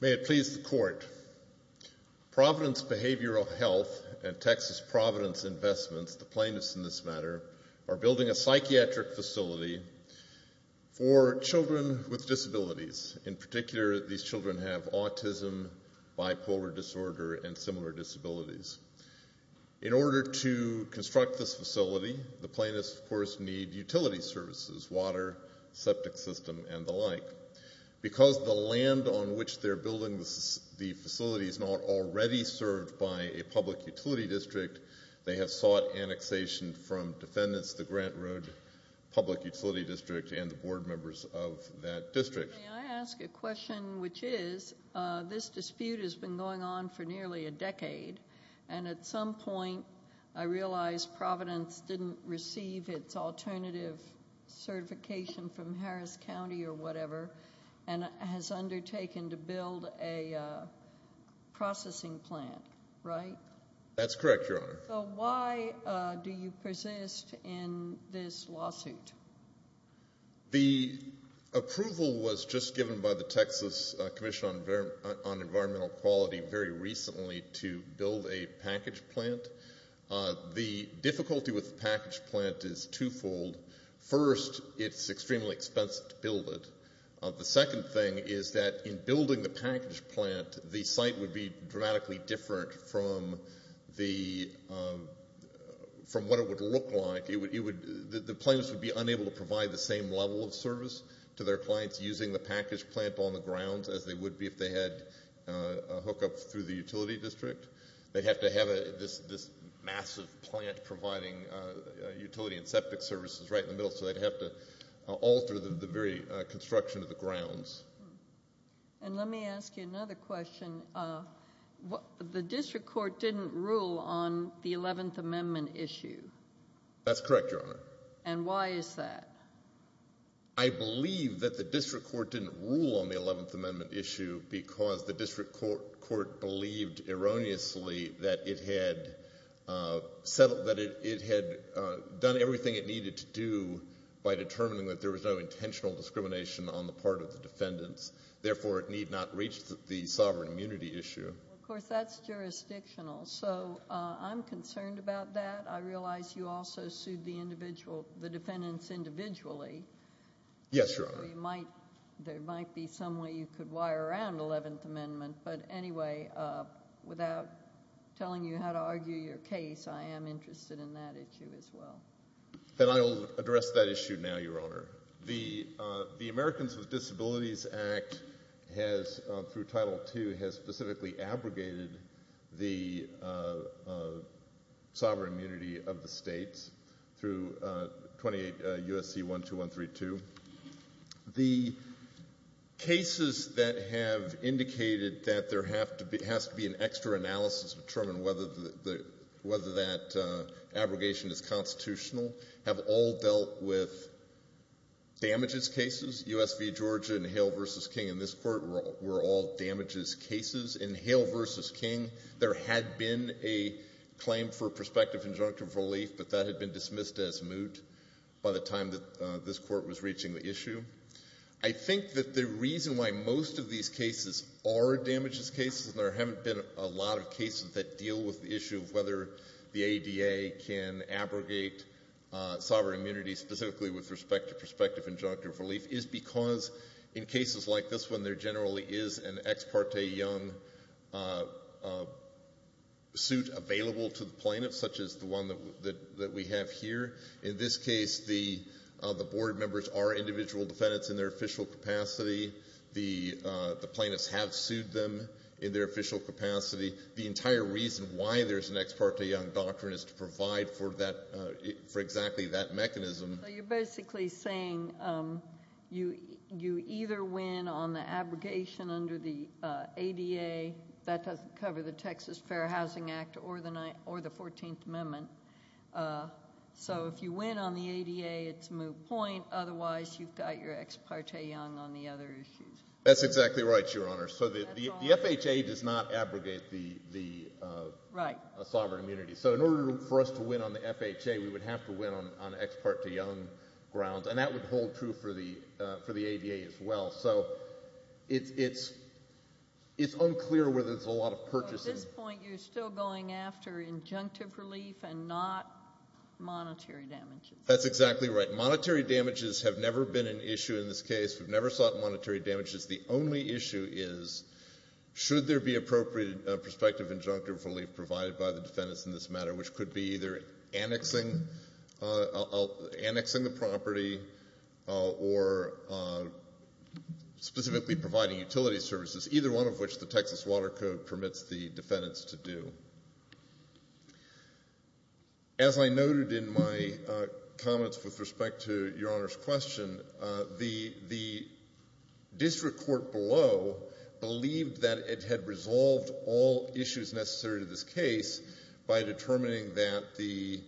May it please the Court, Providence Behavioral Health and Texas Providence Investments, the plaintiffs in this matter, are building a psychiatric facility for children with disabilities. In particular, these children have autism, bipolar disorder, and similar disabilities. In order to construct this facility, the plaintiffs, of course, need utility services, water, septic system, and the like. Because the land on which they're building the facility is not already served by a public utility district, they have sought annexation from defendants, the Grant Road Public Utility District and the board members of that district. May I ask a question, which is, this dispute has been going on for nearly a decade, and at some point, I realize Providence didn't receive its alternative certification from Harris County or whatever, and has undertaken to build a processing plant, right? That's correct, Your Honor. So why do you persist in this lawsuit? The approval was just given by the Texas Commission on Environmental Quality very recently to build a package plant. The difficulty with the package plant is twofold. First, it's extremely expensive to build it. The second thing is that in building the package plant, the site would be dramatically different from what it would look like. The plaintiffs would be unable to provide the same level of service to their clients using the package plant on the grounds as they would be if they had a hookup through the utility district. They'd have to have this massive plant providing utility and septic services right in the middle, so they'd have to alter the very construction of the grounds. And let me ask you another question. The district court didn't rule on the Eleventh Amendment issue. That's correct, Your Honor. And why is that? I believe that the district court didn't rule on the Eleventh Amendment issue because the district court believed erroneously that it had done everything it needed to do by determining that there was no intentional discrimination on the part of the defendants, therefore it need not reach the sovereign immunity issue. Well, of course, that's jurisdictional, so I'm concerned about that. I realize you also sued the defendants individually. Yes, Your Honor. There might be some way you could wire around the Eleventh Amendment, but anyway, without telling you how to argue your case, I am interested in that issue as well. And I'll address that issue now, Your Honor. The Americans with Disabilities Act has, through Title II, has specifically abrogated the sovereign immunity of the states through 28 U.S.C. 12132. The cases that have indicated that there has to be an extra analysis to determine whether that abrogation is constitutional have all dealt with damages cases. US v. Georgia and Hale v. King in this court were all damages cases. In Hale v. King, there had been a claim for prospective injunctive relief, but that had been dismissed as moot by the time that this court was reaching the issue. I think that the reason why most of these cases are damages cases and there haven't been a lot of cases that deal with the issue of whether the ADA can abrogate sovereign immunity specifically with respect to prospective injunctive relief is because, in cases like this one, there generally is an ex parte young suit available to the plaintiff, such as the one that we have here. In this case, the board members are individual defendants in their official capacity. The plaintiffs have sued them in their official capacity. The entire reason why there's an ex parte young doctrine is to provide for exactly that mechanism. So you're basically saying you either win on the abrogation under the ADA, that doesn't cover the Texas Fair Housing Act or the 14th Amendment, so if you win on the ADA, it's moot point. Otherwise, you've got your ex parte young on the other issues. That's exactly right, Your Honor. So the FHA does not abrogate the sovereign immunity. So in order for us to win on the FHA, we would have to win on ex parte young grounds, and that would hold true for the ADA as well. So it's unclear whether there's a lot of purchasing. So at this point, you're still going after injunctive relief and not monetary damages. That's exactly right. Monetary damages have never been an issue in this case. We've never sought monetary damages. The only issue is should there be appropriate prospective injunctive relief provided by the defendants in this matter, which could be either annexing the property or specifically providing utility services, either one of which the Texas Water Code permits the defendants to do. As I noted in my comments with respect to Your Honor's question, the district court below believed that it had resolved all issues necessary to this case by determining that the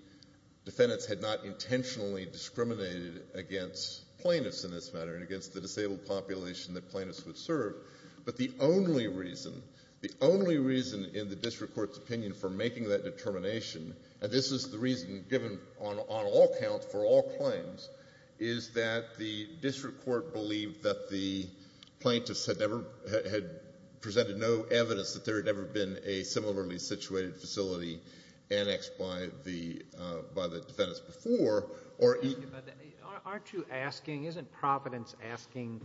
defendants had not intentionally discriminated against plaintiffs in this matter and against the disabled population that plaintiffs would serve, but the only reason, in the district court's opinion, for making that determination, and this is the reason given on all counts for all claims, is that the district court believed that the plaintiffs had presented no evidence that there had ever been a similarly situated facility annexed by the defendants before. Aren't you asking, isn't Providence asking,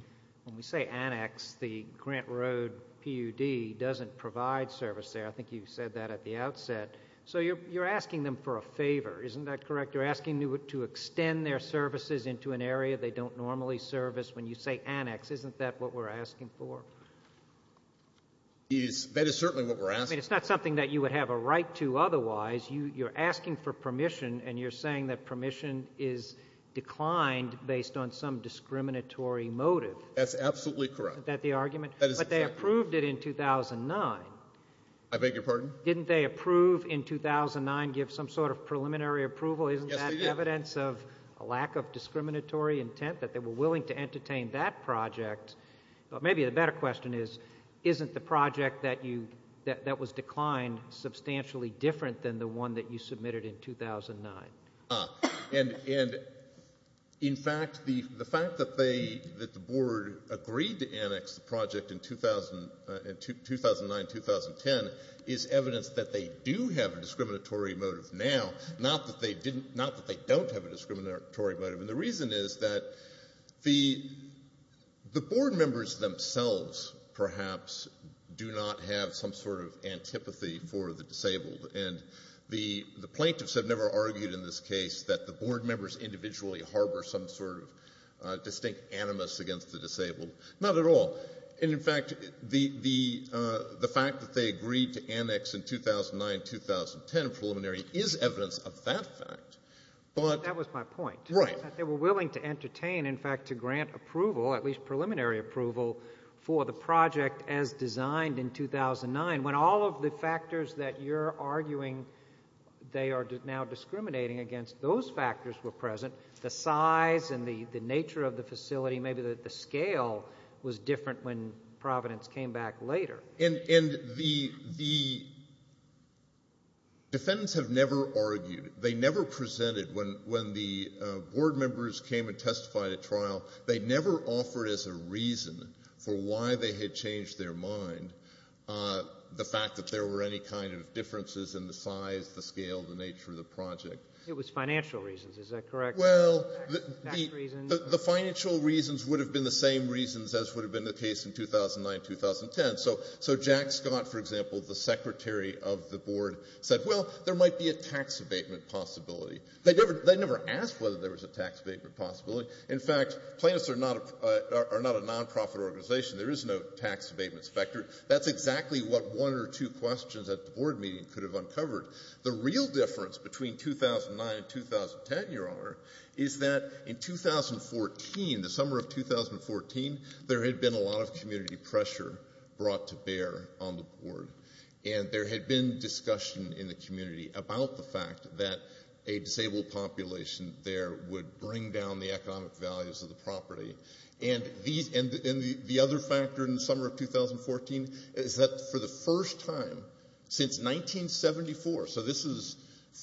when we say annex, the Grant Road PUD doesn't provide service there, I think you said that at the outset, so you're asking them for a favor, isn't that correct? You're asking to extend their services into an area they don't normally service when you say annex. Isn't that what we're asking for? That is certainly what we're asking. I mean, it's not something that you would have a right to otherwise. You're asking for permission, and you're saying that permission is declined based on some discriminatory motive. That's absolutely correct. That the argument, but they approved it in 2009. I beg your pardon? Didn't they approve in 2009, give some sort of preliminary approval? Isn't that evidence of a lack of discriminatory intent that they were willing to entertain that project? But maybe the better question is, isn't the project that you, that was declined, substantially different than the one that you submitted in 2009? And in fact, the fact that they, that the board agreed to annex the project in 2009-2010 is evidence that they do have a discriminatory motive now, not that they didn't, not that they don't have a discriminatory motive. And the reason is that the board members themselves, perhaps, do not have some sort of antipathy for the disabled. And the plaintiffs have never argued in this case that the board members individually harbor some sort of distinct animus against the disabled, not at all. And in fact, the fact that they agreed to annex in 2009-2010 preliminary is evidence of that fact. But. That was my point. Right. That they were willing to entertain, in fact, to grant approval, at least preliminary approval, for the project as designed in 2009. When all of the factors that you're arguing they are now discriminating against, those factors were present, the size and the nature of the facility, maybe the scale was different when Providence came back later. And, and the, the defendants have never argued. They never presented when, when the board members came and testified at trial. They never offered as a reason for why they had changed their mind the fact that there were any kind of differences in the size, the scale, the nature of the project. It was financial reasons, is that correct? Well, the, the, the financial reasons would have been the same reasons as would have been the case in 2009-2010. So, so Jack Scott, for example, the secretary of the board said, well, there might be a tax abatement possibility. They never, they never asked whether there was a tax abatement possibility. In fact, plaintiffs are not a, are not a non-profit organization. There is no tax abatement specter. That's exactly what one or two questions at the board meeting could have uncovered. The real difference between 2009 and 2010, your honor, is that in 2014, the summer of 2014, there had been a lot of community pressure brought to bear on the board. And there had been discussion in the community about the fact that a disabled population there would bring down the economic values of the property. And these, and, and the other factor in the summer of 2014 is that for the first time since 1974, so this is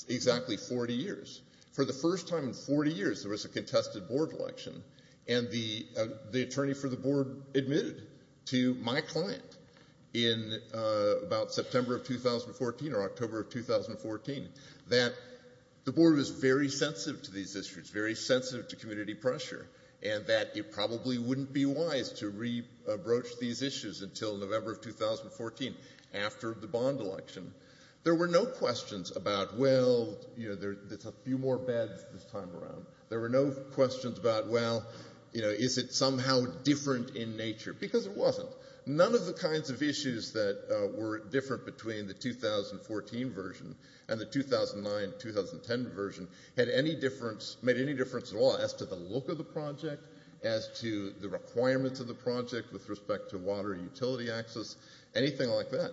exactly 40 years, for the first time in 40 years, there was a contested board election. And the, the attorney for the board admitted to my client in about September of 2014 or October of 2014 that the board was very sensitive to these issues, very sensitive to community pressure, and that it probably wouldn't be wise to re-abroach these issues until November of 2014 after the bond election. There were no questions about, well, you know, there's a few more beds this time around. There were no questions about, well, you know, is it somehow different in nature? Because it wasn't. None of the kinds of issues that were different between the 2014 version and the 2009-2010 version had any difference, made any difference at all as to the look of the project, as to the requirements of the project with respect to water utility access, anything like that.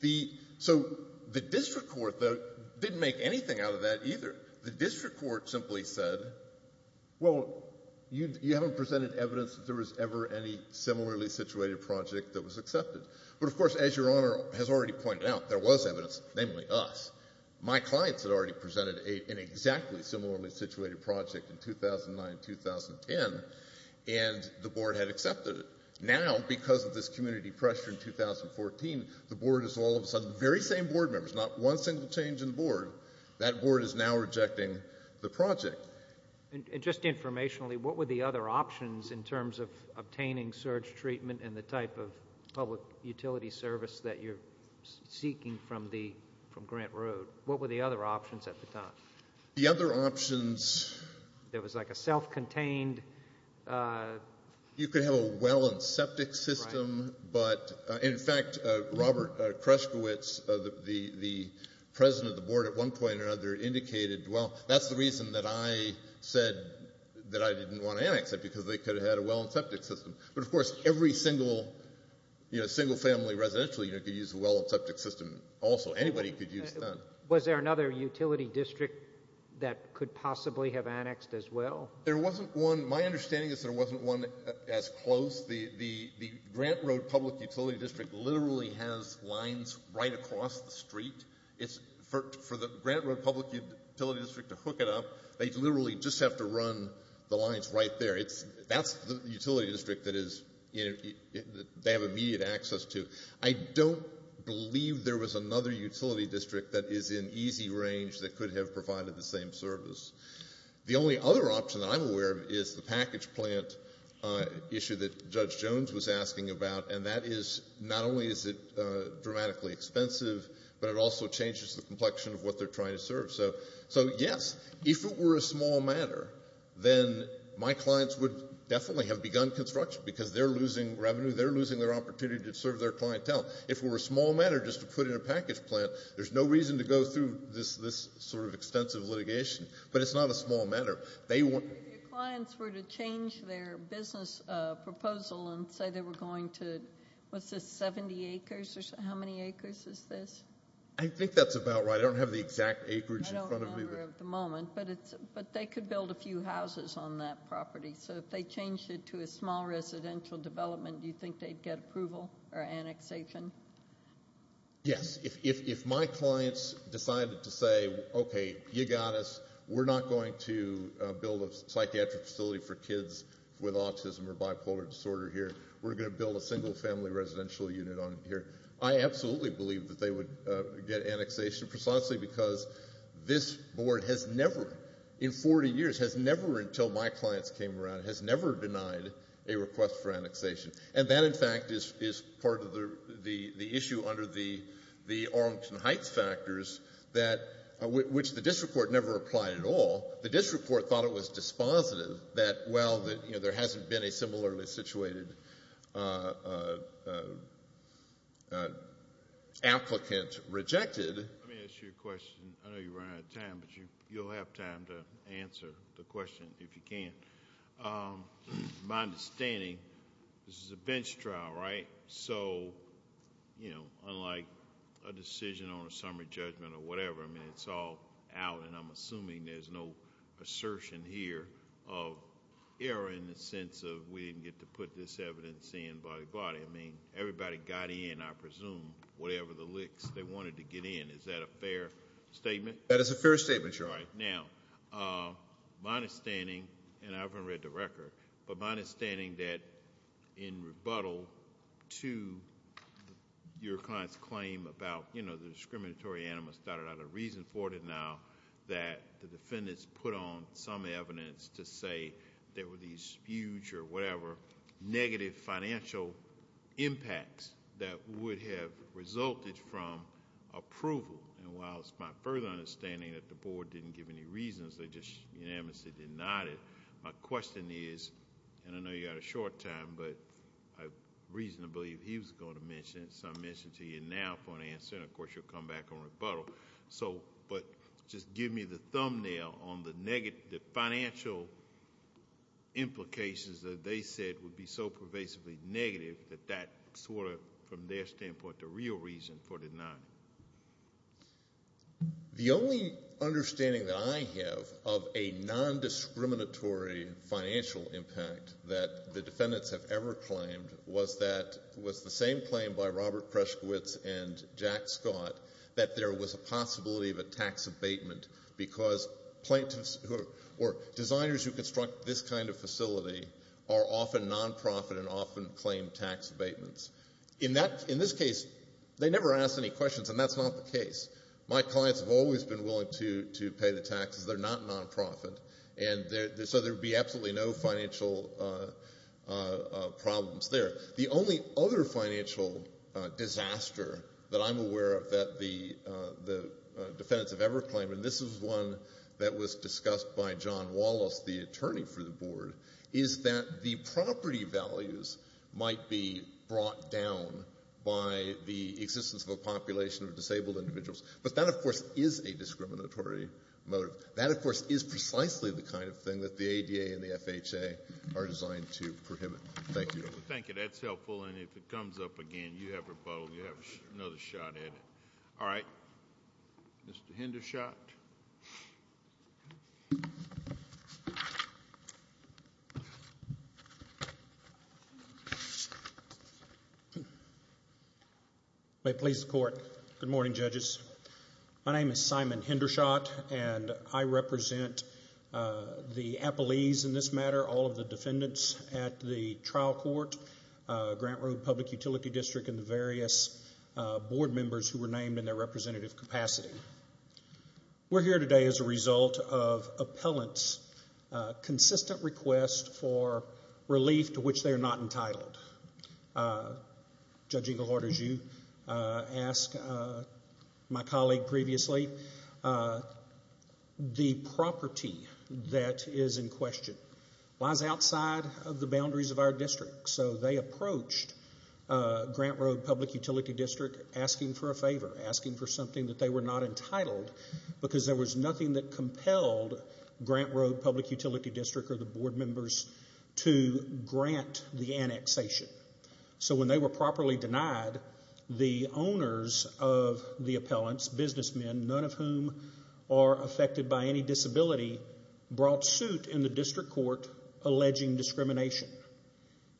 The, so the district court, though, didn't make anything out of that either. The district court simply said, well, you, you haven't presented evidence that there was ever any similarly situated project that was accepted. But of course, as Your Honor has already pointed out, there was evidence, namely us. My clients had already presented an exactly similarly situated project in 2009-2010, and the board had accepted it. Now, because of this community pressure in 2014, the board is all of a sudden very same board members, not one single change in the board. That board is now rejecting the project. And just informationally, what were the other options in terms of obtaining surge treatment and the type of public utility service that you're seeking from the, from Grant Road? What were the other options at the time? The other options. There was like a self-contained. You could have a well and septic system. But, in fact, Robert Krushkowitz, the president of the board at one point or another indicated, well, that's the reason that I said that I didn't want to annex it because they could have had a well and septic system. But, of course, every single, you know, single family residential, you know, could use a well and septic system also. Anybody could use that. Was there another utility district that could possibly have annexed as well? There wasn't one. My understanding is there wasn't one as close. The Grant Road Public Utility District literally has lines right across the street. It's, for the Grant Road Public Utility District to hook it up, they literally just have to run the lines right there. That's the utility district that they have immediate access to. I don't believe there was another utility district that is in easy range that could have provided the same service. The only other option that I'm aware of is the package plant issue that Judge Jones was asking about. And that is, not only is it dramatically expensive, but it also changes the complexion of what they're trying to serve. So, yes, if it were a small matter, then my clients would definitely have begun construction because they're losing revenue. They're losing their opportunity to serve their clientele. If it were a small matter just to put in a package plant, there's no reason to go through this sort of extensive litigation. But it's not a small matter. If your clients were to change their business proposal and say they were going to, what's this, 70 acres? How many acres is this? I think that's about right. I don't have the exact acreage in front of me. I don't remember at the moment, but they could build a few houses on that property. So if they changed it to a small residential development, do you think they'd get approval or annexation? Yes. If my clients decided to say, okay, you got us. We're not going to build a psychiatric facility for kids with autism or bipolar disorder here. We're going to build a single family residential unit on here. I absolutely believe that they would get annexation. Precisely because this board has never, in 40 years, has never, until my clients came around, has never denied a request for annexation. And that, in fact, is part of the issue under the Arlington Heights factors which the district court never applied at all. The district court thought it was dispositive that while there hasn't been a similarly situated applicant rejected. Let me ask you a question. I know you're running out of time, but you'll have time to answer the question if you can. My understanding, this is a bench trial, right? So, you know, unlike a decision on a summary judgment or whatever, I mean, it's all out. And I'm assuming there's no assertion here of error in the sense of we didn't get to put this evidence in by the body. I mean, everybody got in, I presume, whatever the licks they wanted to get in. Is that a fair statement? That is a fair statement, Your Honor. All right. Now, my understanding, and I haven't read the record, but my understanding that in rebuttal to your client's claim about, you know, the discriminatory anima started out a reason for it now that the defendants put on some evidence to say there were these huge or whatever negative financial impacts that would have resulted from approval. And while it's my further understanding that the board didn't give any reasons, they just unanimously denied it. My question is, and I know you got a short time, but I reasonably believe he was going to mention it. So I mentioned to you now for an answer, and of course you'll come back on rebuttal. So, but just give me the thumbnail on the negative financial implications that they said would be so pervasively negative that that sort of, from their standpoint, the real reason for the denying. The only understanding that I have of a non-discriminatory financial impact that the defendants have ever claimed was that, was the same claim by Robert Preshkowitz and Jack Scott that there was a possibility of a tax abatement because plaintiffs or designers who construct this kind of facility are often non-profit and often claim tax abatements. In this case, they never asked any questions, and that's not the case. My clients have always been willing to pay the taxes. They're not non-profit. And so there'd be absolutely no financial problems there. The only other financial disaster that I'm aware of that the defendants have ever claimed, and this is one that was discussed by John Wallace, the attorney for the board, is that the property values might be brought down by the existence of a population of disabled individuals. But that, of course, is a discriminatory motive. That, of course, is precisely the kind of thing that the ADA and the FHA are designed to prohibit. Thank you. Thank you. That's helpful. And if it comes up again, you have a bottle. You have another shot at it. All right, Mr. Hindershot. May it please the court. Good morning, judges. My name is Simon Hindershot, and I represent the appellees in this matter, all of the defendants at the trial court, Grant Road Public Utility District, and the various board members who were named in their representative capacity. We're here today as a result of appellants' consistent request for relief, to which they are not entitled. Judging the court as you asked my colleague previously, the property that is in question lies outside of the boundaries of our district. So they approached Grant Road Public Utility District asking for a favor, because there was nothing that compelled Grant Road Public Utility District or the board members to grant the annexation. So when they were properly denied, the owners of the appellants, businessmen, none of whom are affected by any disability, brought suit in the district court, alleging discrimination.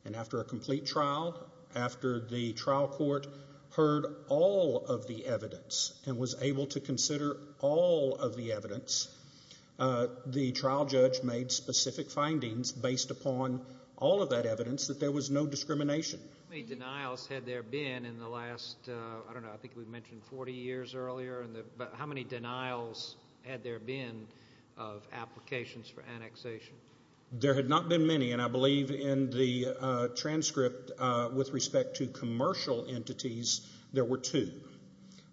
And after a complete trial, after the trial court heard all of the evidence and was able to consider all of the evidence, the trial judge made specific findings based upon all of that evidence that there was no discrimination. How many denials had there been in the last, I don't know, I think we mentioned 40 years earlier? How many denials had there been of applications for annexation? There had not been many. And I believe in the transcript with respect to commercial entities, there were two.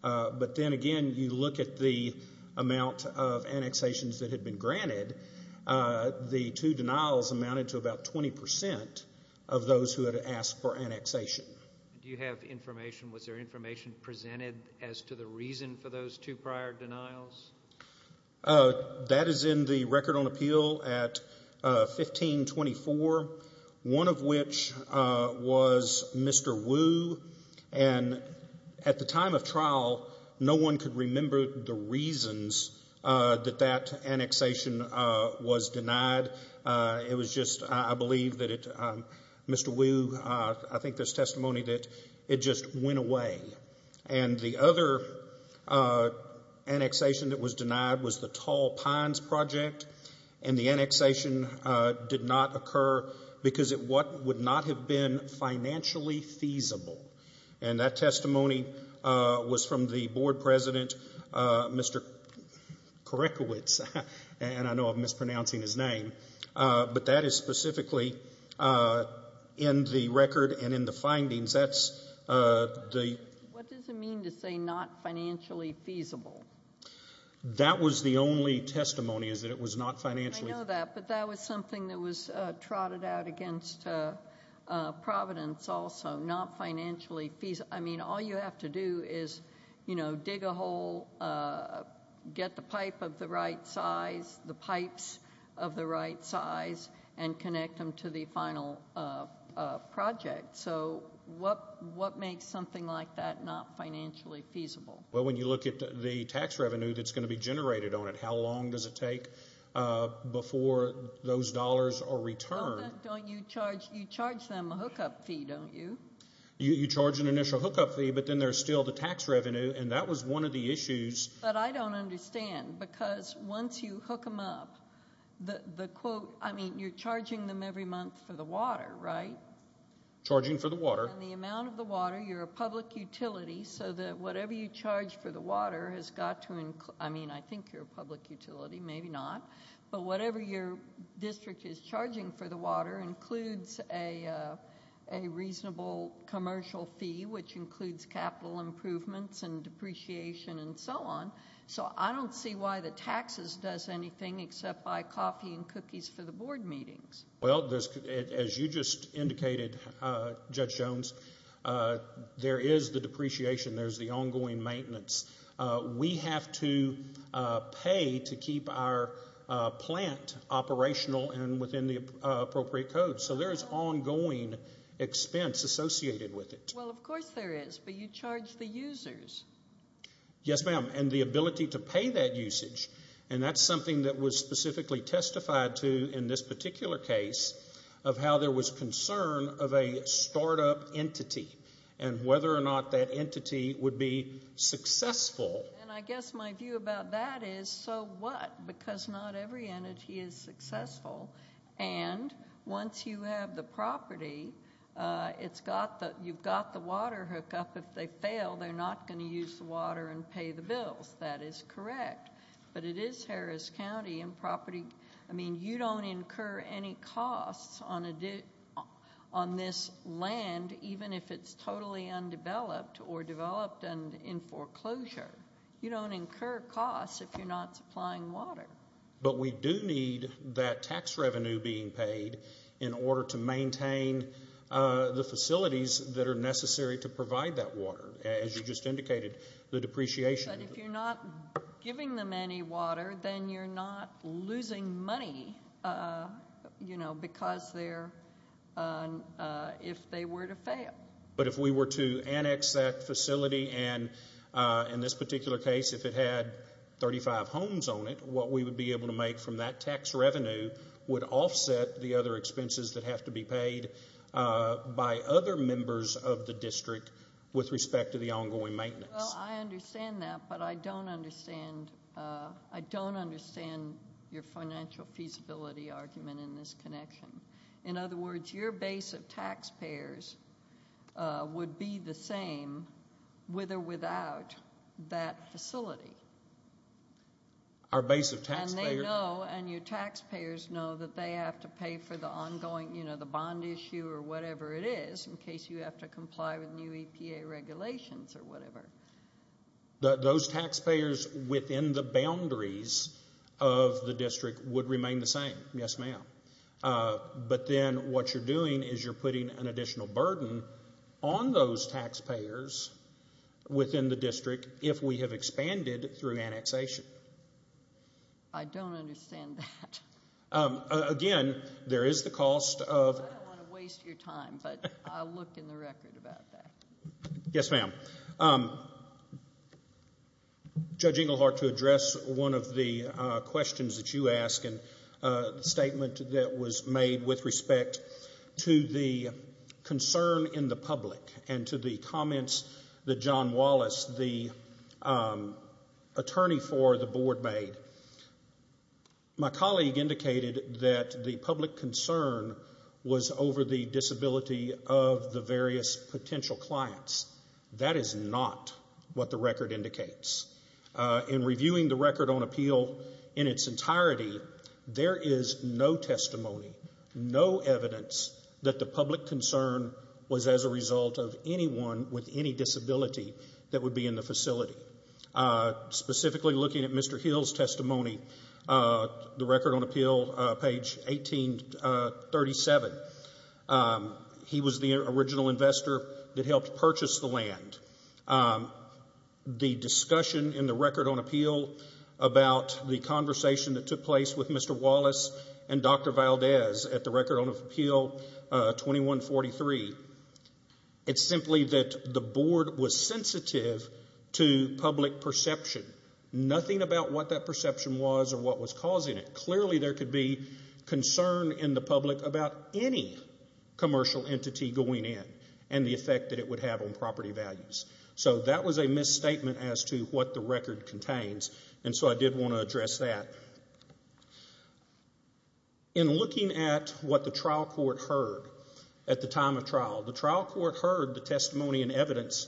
But then again, you look at the amount of annexations that had been granted, the two denials amounted to about 20% of those who had asked for annexation. Do you have information, was there information presented as to the reason for those two prior denials? That is in the Record on Appeal at 1524, one of which was Mr. Wu. And at the time of trial, no one could remember the reasons that that annexation was denied. It was just, I believe that it, Mr. Wu, I think there's testimony that it just went away. And the other annexation that was denied was the Tall Pines Project. And the annexation did not occur because it would not have been financially feasible. And that testimony was from the board president, Mr. Korekiewicz, and I know I'm mispronouncing his name, but that is specifically in the record and in the findings. That's the- What does it mean to say not financially feasible? That was the only testimony, is that it was not financially- I know that, but that was something that was trotted out against Providence also, not financially feasible. I mean, all you have to do is, you know, dig a hole, get the pipe of the right size, the pipes of the right size, and connect them to the final project. So what makes something like that not financially feasible? Well, when you look at the tax revenue that's going to be generated on it, how long does it take before those dollars are returned? Don't you charge them a hookup fee, don't you? You charge an initial hookup fee, but then there's still the tax revenue, and that was one of the issues. But I don't understand, because once you hook them up, the quote, I mean, you're charging them every month for the water, right? Charging for the water. And the amount of the water, you're a public utility, so that whatever you charge for the water has got to include- I mean, I think you're a public utility, maybe not, but whatever your district is charging for the water includes a reasonable commercial fee, which includes capital improvements and depreciation and so on. So I don't see why the taxes does anything except buy coffee and cookies for the board meetings. Well, as you just indicated, Judge Jones, there is the depreciation, there's the ongoing maintenance. We have to pay to keep our plant operational and within the appropriate code. So there is ongoing expense associated with it. Well, of course there is, but you charge the users. Yes, ma'am, and the ability to pay that usage. And that's something that was specifically testified to in this particular case of how there was concern of a startup entity and whether or not that entity would be successful. And I guess my view about that is, so what, because not every entity is successful. And once you have the property, you've got the water hookup. If they fail, they're not going to use the water and pay the bills. That is correct. But it is Harris County and property. I mean, you don't incur any costs on this land, even if it's totally undeveloped or developed and in foreclosure. You don't incur costs if you're not supplying water. But we do need that tax revenue being paid in order to maintain the facilities that are necessary to provide that water, as you just indicated, the depreciation. But if you're not giving them any water, then you're not losing money, you know, because they're, if they were to fail. But if we were to annex that facility and in this particular case, if it had 35 homes on it, what we would be able to make from that tax revenue would offset the other expenses that have to be paid by other members of the district with respect to the ongoing maintenance. Well, I understand that, but I don't understand, I don't understand your financial feasibility argument in this connection. In other words, your base of taxpayers would be the same with or without that facility. Our base of taxpayers? And they know, and your taxpayers know that they have to pay for the ongoing, you know, the bond issue or whatever it is in case you have to comply with new EPA regulations or whatever. Those taxpayers within the boundaries of the district would remain the same, yes, ma'am. But then what you're doing is you're putting an additional burden on those taxpayers within the district if we have expanded through annexation. I don't understand that. Again, there is the cost of... I don't want to waste your time, but I'll look in the record about that. Yes, ma'am. Judge Engelhardt, to address one of the questions that you ask and the statement that was made with respect to the concern in the public and to the comments that John Wallace, the attorney for the board, made, my colleague indicated that the public concern was over the disability of the various potential clients. That is not what the record indicates. In reviewing the record on appeal in its entirety, there is no testimony, no evidence that the public concern was as a result of anyone with any disability that would be in the facility. Specifically looking at Mr. Hill's testimony, the record on appeal, page 1837, he was the original investor that helped purchase the land. The discussion in the record on appeal about the conversation that took place with Mr. Wallace and Dr. Valdez at the record on appeal 2143, it's simply that the board was sensitive to public perception, nothing about what that perception was or what was causing it. Clearly there could be concern in the public about any commercial entity going in and the effect that it would have on property values. So that was a misstatement as to what the record contains. So I did want to address that. In looking at what the trial court heard at the time of trial, the trial court heard the testimony and evidence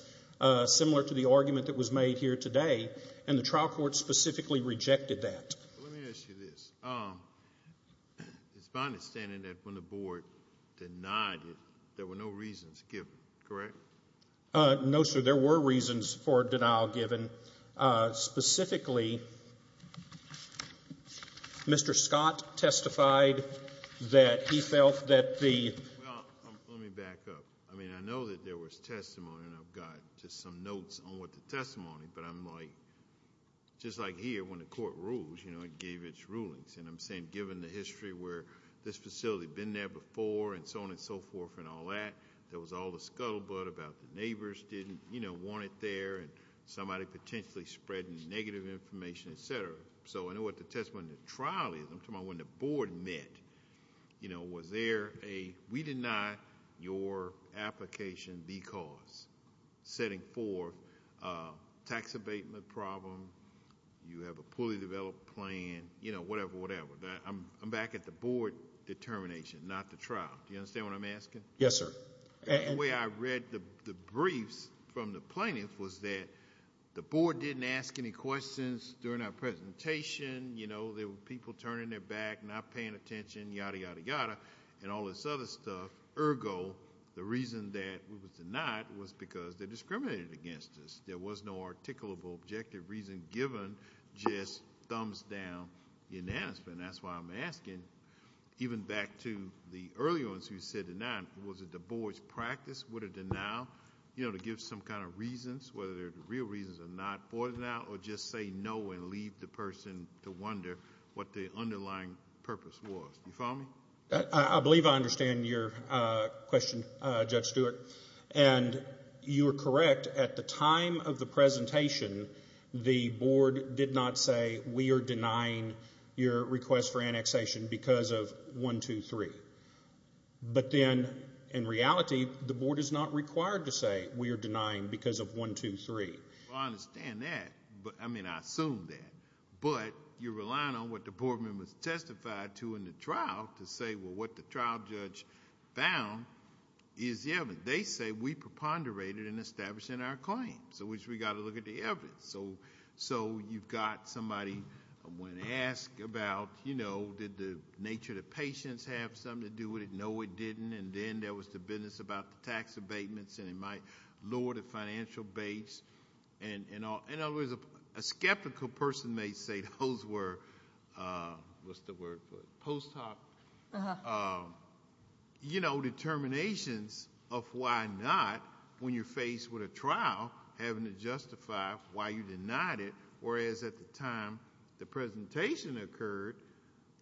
similar to the argument that was made here today and the trial court specifically rejected that. Let me ask you this. It's my understanding that when the board denied it, there were no reasons given, correct? No, sir, there were reasons for denial given. Specifically, Mr. Scott testified that he felt that the- Well, let me back up. I mean, I know that there was testimony and I've got just some notes on what the testimony, but I'm like, just like here when the court rules, you know, it gave its rulings. And I'm saying given the history where this facility had been there before and so on and so forth and all that, there was all the scuttlebutt about the neighbors didn't, you know, want it there and somebody potentially spreading negative information, et cetera. So I know what the testimony in the trial is. I'm talking about when the board met, you know, was there a, we deny your application because, setting forth a tax abatement problem, you have a poorly developed plan, you know, whatever, whatever. I'm back at the board determination, not the trial. Do you understand what I'm asking? Yes, sir. The way I read the briefs from the plaintiffs was that the board didn't ask any questions during our presentation. You know, there were people turning their back, not paying attention, yada, yada, yada, and all this other stuff. Ergo, the reason that we were denied was because they discriminated against us. There was no articulable objective reason given just thumbs down unanimous. And that's why I'm asking, even back to the early ones who said denied, was it the board's practice? Would it now, you know, give some kind of reasons, whether they're real reasons or not, for it now, or just say no and leave the person to wonder what the underlying purpose was? You follow me? I believe I understand your question, Judge Stewart. And you are correct. At the time of the presentation, the board did not say, we are denying your request for annexation because of one, two, three. But then, in reality, the board is not required to say, we are denying because of one, two, three. Well, I understand that. But, I mean, I assume that. But you're relying on what the board members testified to in the trial to say, well, what the trial judge found is the evidence. They say we preponderated in establishing our claim. So we got to look at the evidence. So you've got somebody, when asked about, you know, did the nature of the patients have something to do with it? No, it didn't. And then there was the business about the tax abatements and it might lower the financial base and all. And always a skeptical person may say those were, what's the word for it? Post hoc, you know, determinations of why not, when you're faced with a trial, having to justify why you denied it. Whereas at the time the presentation occurred,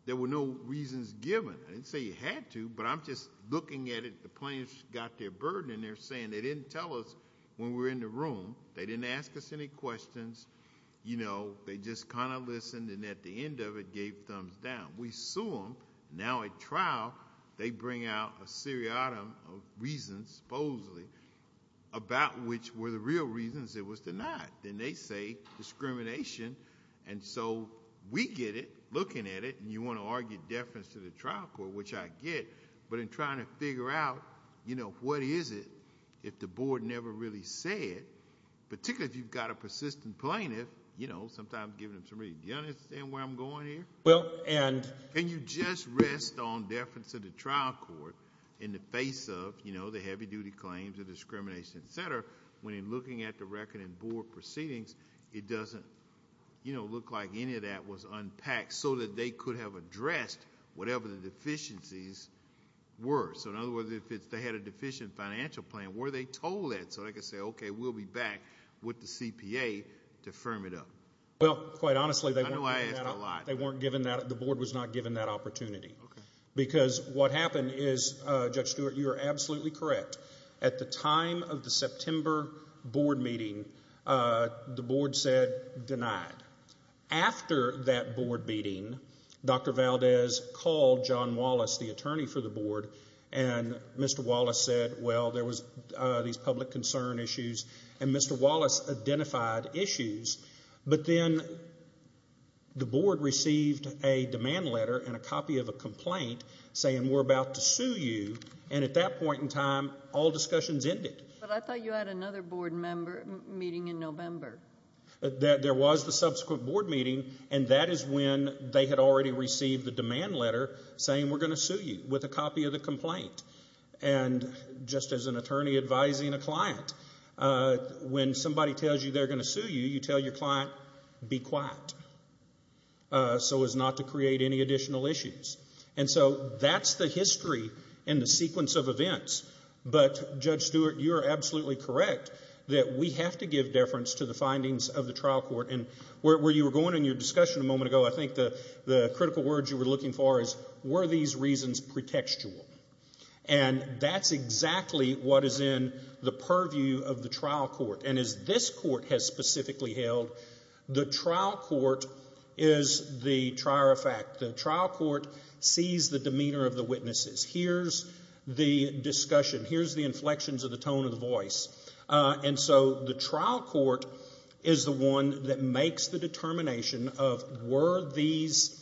there were no reasons given. I didn't say you had to, but I'm just looking at it. The plaintiffs got their burden and they're saying they didn't tell us when we were in the room, they didn't ask us any questions. You know, they just kind of listened and at the end of it gave thumbs down. We sue them. Now at trial, they bring out a seriatim of reasons, supposedly, about which were the real reasons it was denied. Then they say discrimination. And so we get it looking at it and you want to argue deference to the trial court, which I get. But in trying to figure out, you know, what is it, if the board never really said, particularly if you've got a persistent plaintiff, you know, sometimes giving them some reason. Do you understand where I'm going here? Can you just rest on deference to the trial court in the face of, you know, the heavy duty claims of discrimination, et cetera, when in looking at the record and board proceedings, it doesn't, you know, look like any of that was unpacked so that they could have addressed whatever the deficiencies were. So in other words, if they had a deficient financial plan, were they told that? So they could say, okay, we'll be back with the CPA to firm it up. Well, quite honestly, they weren't given that. The board was not given that opportunity because what happened is, Judge Stewart, you're absolutely correct. At the time of the September board meeting, the board said denied. After that board meeting, Dr. Valdez called John Wallace, the attorney for the board, and Mr. Wallace said, well, there was these public concern issues, and Mr. Wallace identified issues. But then the board received a demand letter and a copy of a complaint saying, we're about to sue you. And at that point in time, all discussions ended. But I thought you had another board member meeting in November. There was the subsequent board meeting, and that is when they had already received the demand letter saying, we're going to sue you with a copy of the complaint. And just as an attorney advising a client, when somebody tells you they're going to sue you, you tell your client, be quiet. So as not to create any additional issues. And so that's the history and the sequence of events. But Judge Stewart, you're absolutely correct that we have to give deference to the findings of the trial court. And where you were going in your discussion a moment ago, I think the critical words you were looking for is, were these reasons pretextual? And that's exactly what is in the purview of the trial court. And as this court has specifically held, the trial court is the trier of fact. The trial court sees the demeanor of the witnesses. Here's the discussion. Here's the inflections of the tone of the voice. And so the trial court is the one that makes the determination of were these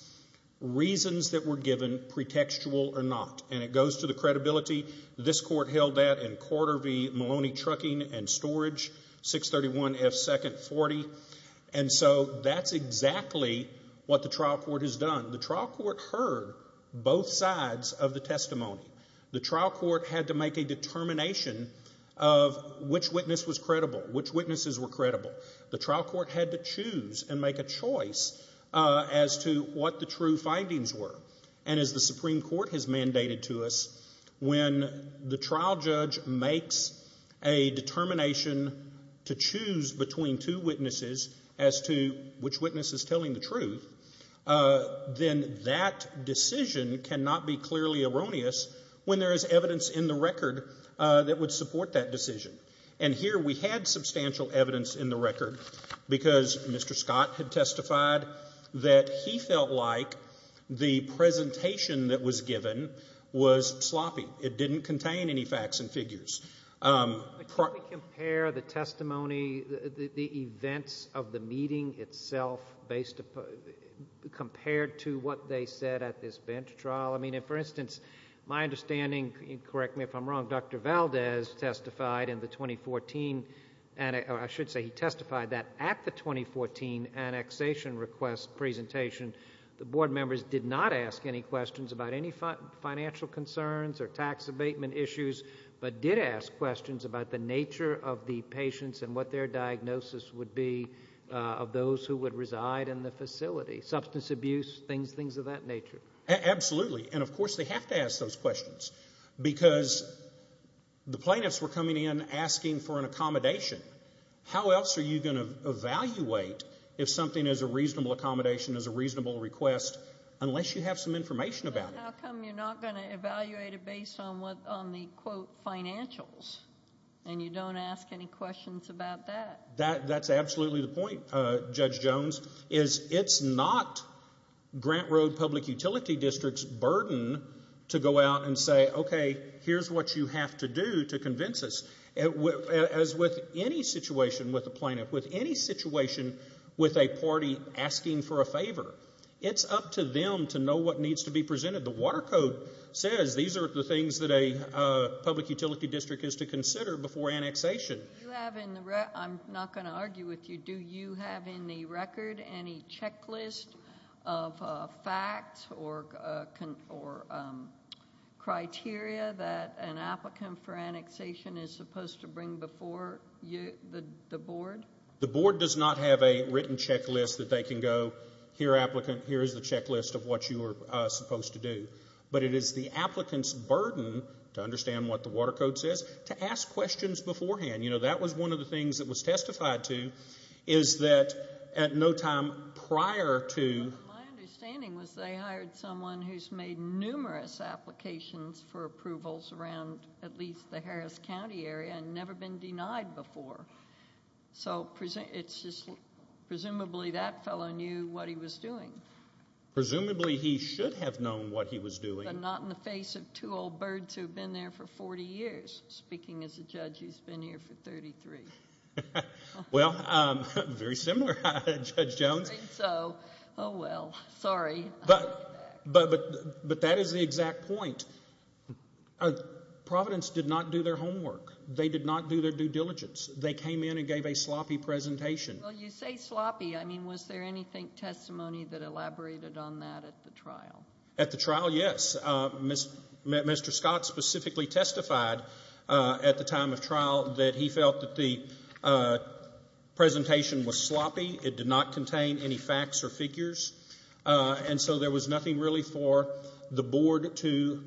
reasons that were given pretextual or not. And it goes to the credibility. This court held that in quarter v. Maloney Trucking and Storage, 631 F. Second 40. And so that's exactly what the trial court has done. The trial court heard both sides of the testimony. The trial court had to make a determination of which witness was credible, which witnesses were credible. The trial court had to choose and make a choice as to what the true findings were. And as the Supreme Court has mandated to us, when the trial judge makes a determination to choose between two witnesses as to which witness is telling the truth, then that decision cannot be clearly erroneous when there is evidence in the record that would support that decision. And here we had substantial evidence in the record because Mr. Scott had testified that he felt like the presentation that was given was sloppy. It didn't contain any facts and figures. Can we compare the testimony, the events of the meeting itself compared to what they said at this bench trial? I mean, for instance, my understanding, correct me if I'm wrong, Dr. Valdez testified in the 2014, and I should say he testified that at the 2014 annexation request presentation, the board members did not ask any questions about any financial concerns or tax abatement issues, but did ask questions about the nature of the patients and what their diagnosis would be of those who would reside in the facility, substance abuse, things of that nature. Absolutely. And of course, they have to ask those questions because the plaintiffs were coming in asking for an accommodation. How else are you going to evaluate if something is a reasonable accommodation, is a reasonable request, unless you have some information about it? How come you're not going to evaluate it based on the quote financials and you don't ask any questions about that? That's absolutely the point, Judge Jones, is it's not Grant Road Public Utility District's burden to go out and say, OK, here's what you have to do to convince us. As with any situation with a plaintiff, with any situation with a party asking for a favor, it's up to them to know what needs to be presented. The Water Code says these are the things that a public utility district is to consider before annexation. I'm not going to argue with you. Do you have in the record any checklist of facts or criteria that an applicant for annexation is supposed to bring before the board? The board does not have a written checklist that they can go, here, applicant, here is the checklist of what you are supposed to do. But it is the applicant's burden to understand what the Water Code says to ask questions beforehand. You know, that was one of the things that was testified to is that at no time prior to... Well, my understanding was they hired someone who's made numerous applications for approvals around at least the Harris County area and never been denied before. So it's just presumably that fellow knew what he was doing. Presumably he should have known what he was doing. But not in the face of two old birds who've been there for 40 years. Speaking as a judge, he's been here for 33. Well, very similar, Judge Jones. I think so. Oh, well, sorry. But that is the exact point. Providence did not do their homework. They did not do their due diligence. They came in and gave a sloppy presentation. Well, you say sloppy. I mean, was there anything testimony that elaborated on that at the trial? At the trial, yes. Mr. Scott specifically testified at the time of trial that he felt that the presentation was sloppy. It did not contain any facts or figures. And so there was nothing really for the board to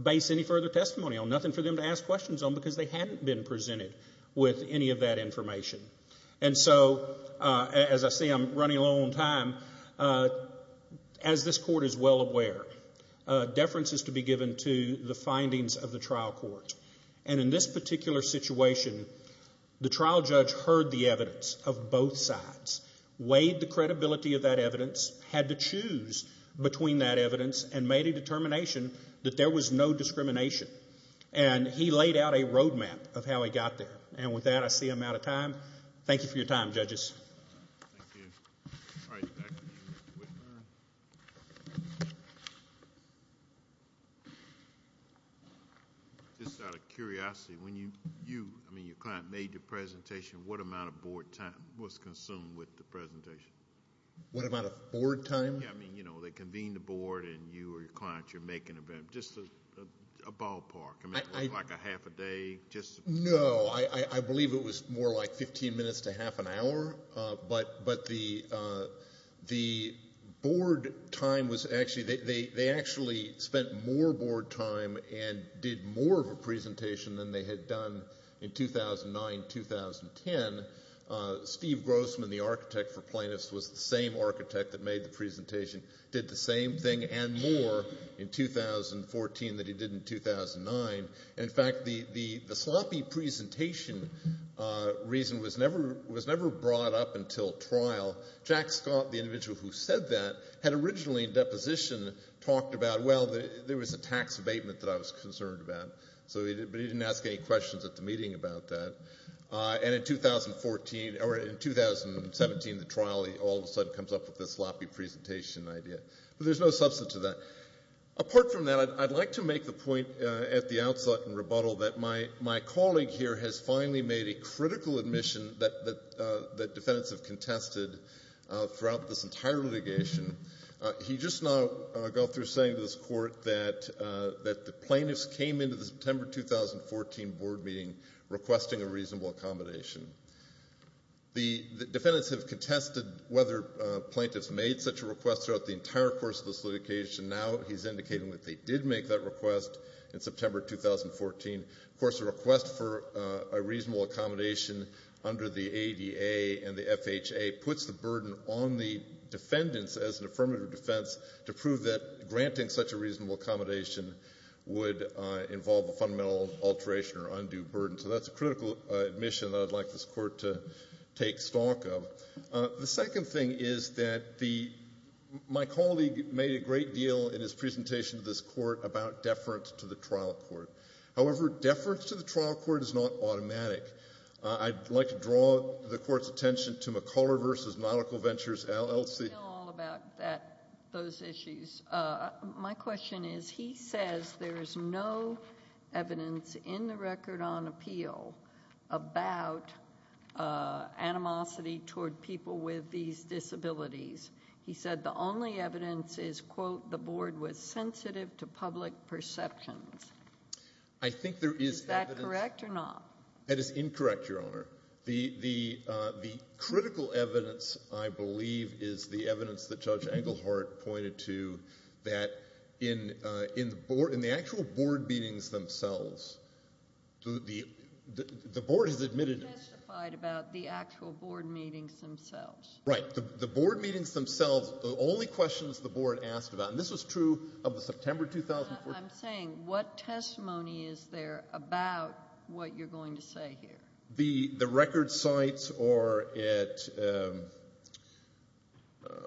base any further testimony on. Nothing for them to ask questions on because they hadn't been presented with any of that information. And so, as I say, I'm running low on time. As this court is well aware, deference is to be given to the findings of the trial court. And in this particular situation, the trial judge heard the evidence of both sides, weighed the credibility of that evidence, had to choose between that evidence, and made a determination that there was no discrimination. And he laid out a roadmap of how he got there. And with that, I see I'm out of time. Thank you for your time, judges. Thank you. All right, back to you, Mr. Whitburn. Just out of curiosity, when you, I mean, your client made your presentation, what amount of board time was consumed with the presentation? What amount of board time? Yeah, I mean, you know, they convene the board and you or your client, you're making a, just a ballpark. I mean, like a half a day, just... No, I believe it was more like 15 minutes to half an hour. But the board time was actually, they actually spent more board time and did more of a presentation than they had done in 2009, 2010. Steve Grossman, the architect for plaintiffs, was the same architect that made the presentation, did the same thing and more in 2014 than he did in 2009. In fact, the sloppy presentation reason was never brought up until trial. Jack Scott, the individual who said that, had originally in deposition talked about, well, there was a tax abatement that I was concerned about. So, but he didn't ask any questions at the meeting about that. And in 2014, or in 2017, the trial, he all of a sudden comes up with this sloppy presentation idea. But there's no substance to that. Apart from that, I'd like to make the point at the outset in rebuttal that my colleague here has finally made a critical admission that defendants have contested throughout this entire litigation. He just now got through saying to this court that the plaintiffs came into the September 2014 board meeting requesting a reasonable accommodation. The defendants have contested whether plaintiffs made such a request throughout the entire course of this litigation. Now he's indicating that they did make that request in September 2014. Of course, a request for a reasonable accommodation under the ADA and the FHA puts the burden on the defendants as an affirmative defense to prove that granting such a reasonable accommodation would involve a fundamental alteration or undue burden. So that's a critical admission that I'd like this court to take stock of. The second thing is that the, my colleague made a great deal in his presentation to this court about deference to the trial court. However, deference to the trial court is not automatic. I'd like to draw the court's attention to McCuller versus Nautical Ventures LLC. I don't know all about that, those issues. My question is, he says there is no evidence in the record on appeal about animosity toward people with these disabilities. He said the only evidence is, quote, the board was sensitive to public perceptions. Is that correct or not? That is incorrect, Your Honor. The critical evidence, I believe, is the evidence that Judge Englehart pointed to that in the actual board meetings themselves, the board has admitted it. He testified about the actual board meetings themselves. Right, the board meetings themselves, the only questions the board asked about, and this was true of the September 2014. I'm saying what testimony is there about what you're going to say here? The record cites are at,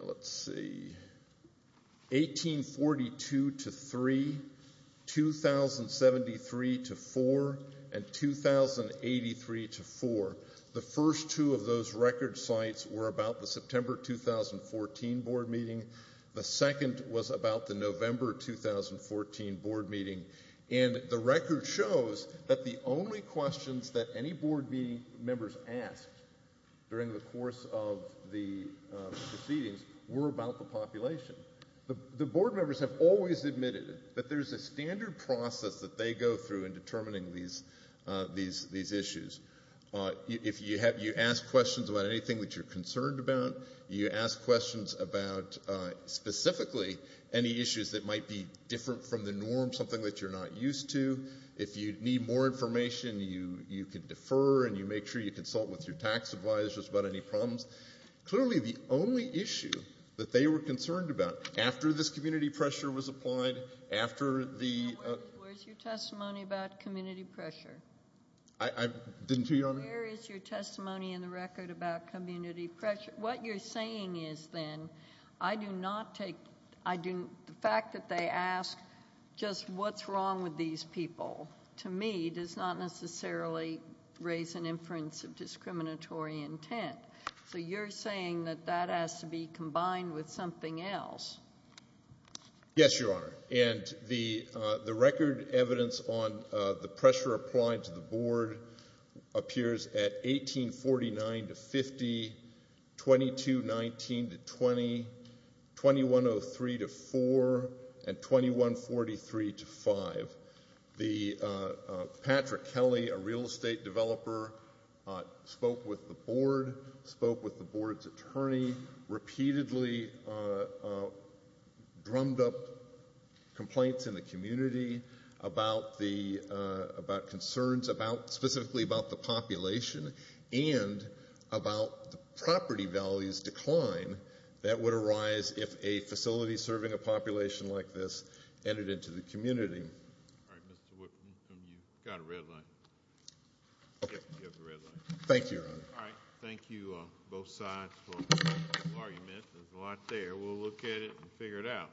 let's see, 1842 to three, 2073 to four, and 2083 to four. The first two of those record cites were about the September 2014 board meeting. The second was about the November 2014 board meeting. And the record shows that the only questions that any board members asked during the course of the proceedings were about the population. The board members have always admitted that there's a standard process that they go through in determining these issues. If you ask questions about anything that you're concerned about, you ask questions about specifically any issues that might be different from the norm, something that you're not used to. If you need more information, you can defer and you make sure you consult with your tax advisor about any problems. Clearly, the only issue that they were concerned about after this community pressure was applied, after the- Where is your testimony about community pressure? I didn't hear you, Your Honor. Where is your testimony in the record about community pressure? What you're saying is then, I do not take, the fact that they ask just what's wrong with these people, to me, does not necessarily raise an inference of discriminatory intent. So you're saying that that has to be combined with something else. Yes, Your Honor, and the record evidence on the pressure applied to the board appears at 1849 to 50, 2219 to 20, 2103 to 4, and 2143 to 5. The, Patrick Kelly, a real estate developer, spoke with the board, spoke with the board's attorney, repeatedly drummed up complaints in the community about the, about concerns about, specifically about the population, and about the property values decline that would arise if a facility serving a population like this entered into the community. All right, Mr. Whitman, you've got a red light. You have the red light. Thank you, Your Honor. All right, thank you, both sides, for your argument. There's a lot there. We'll look at it and figure it out.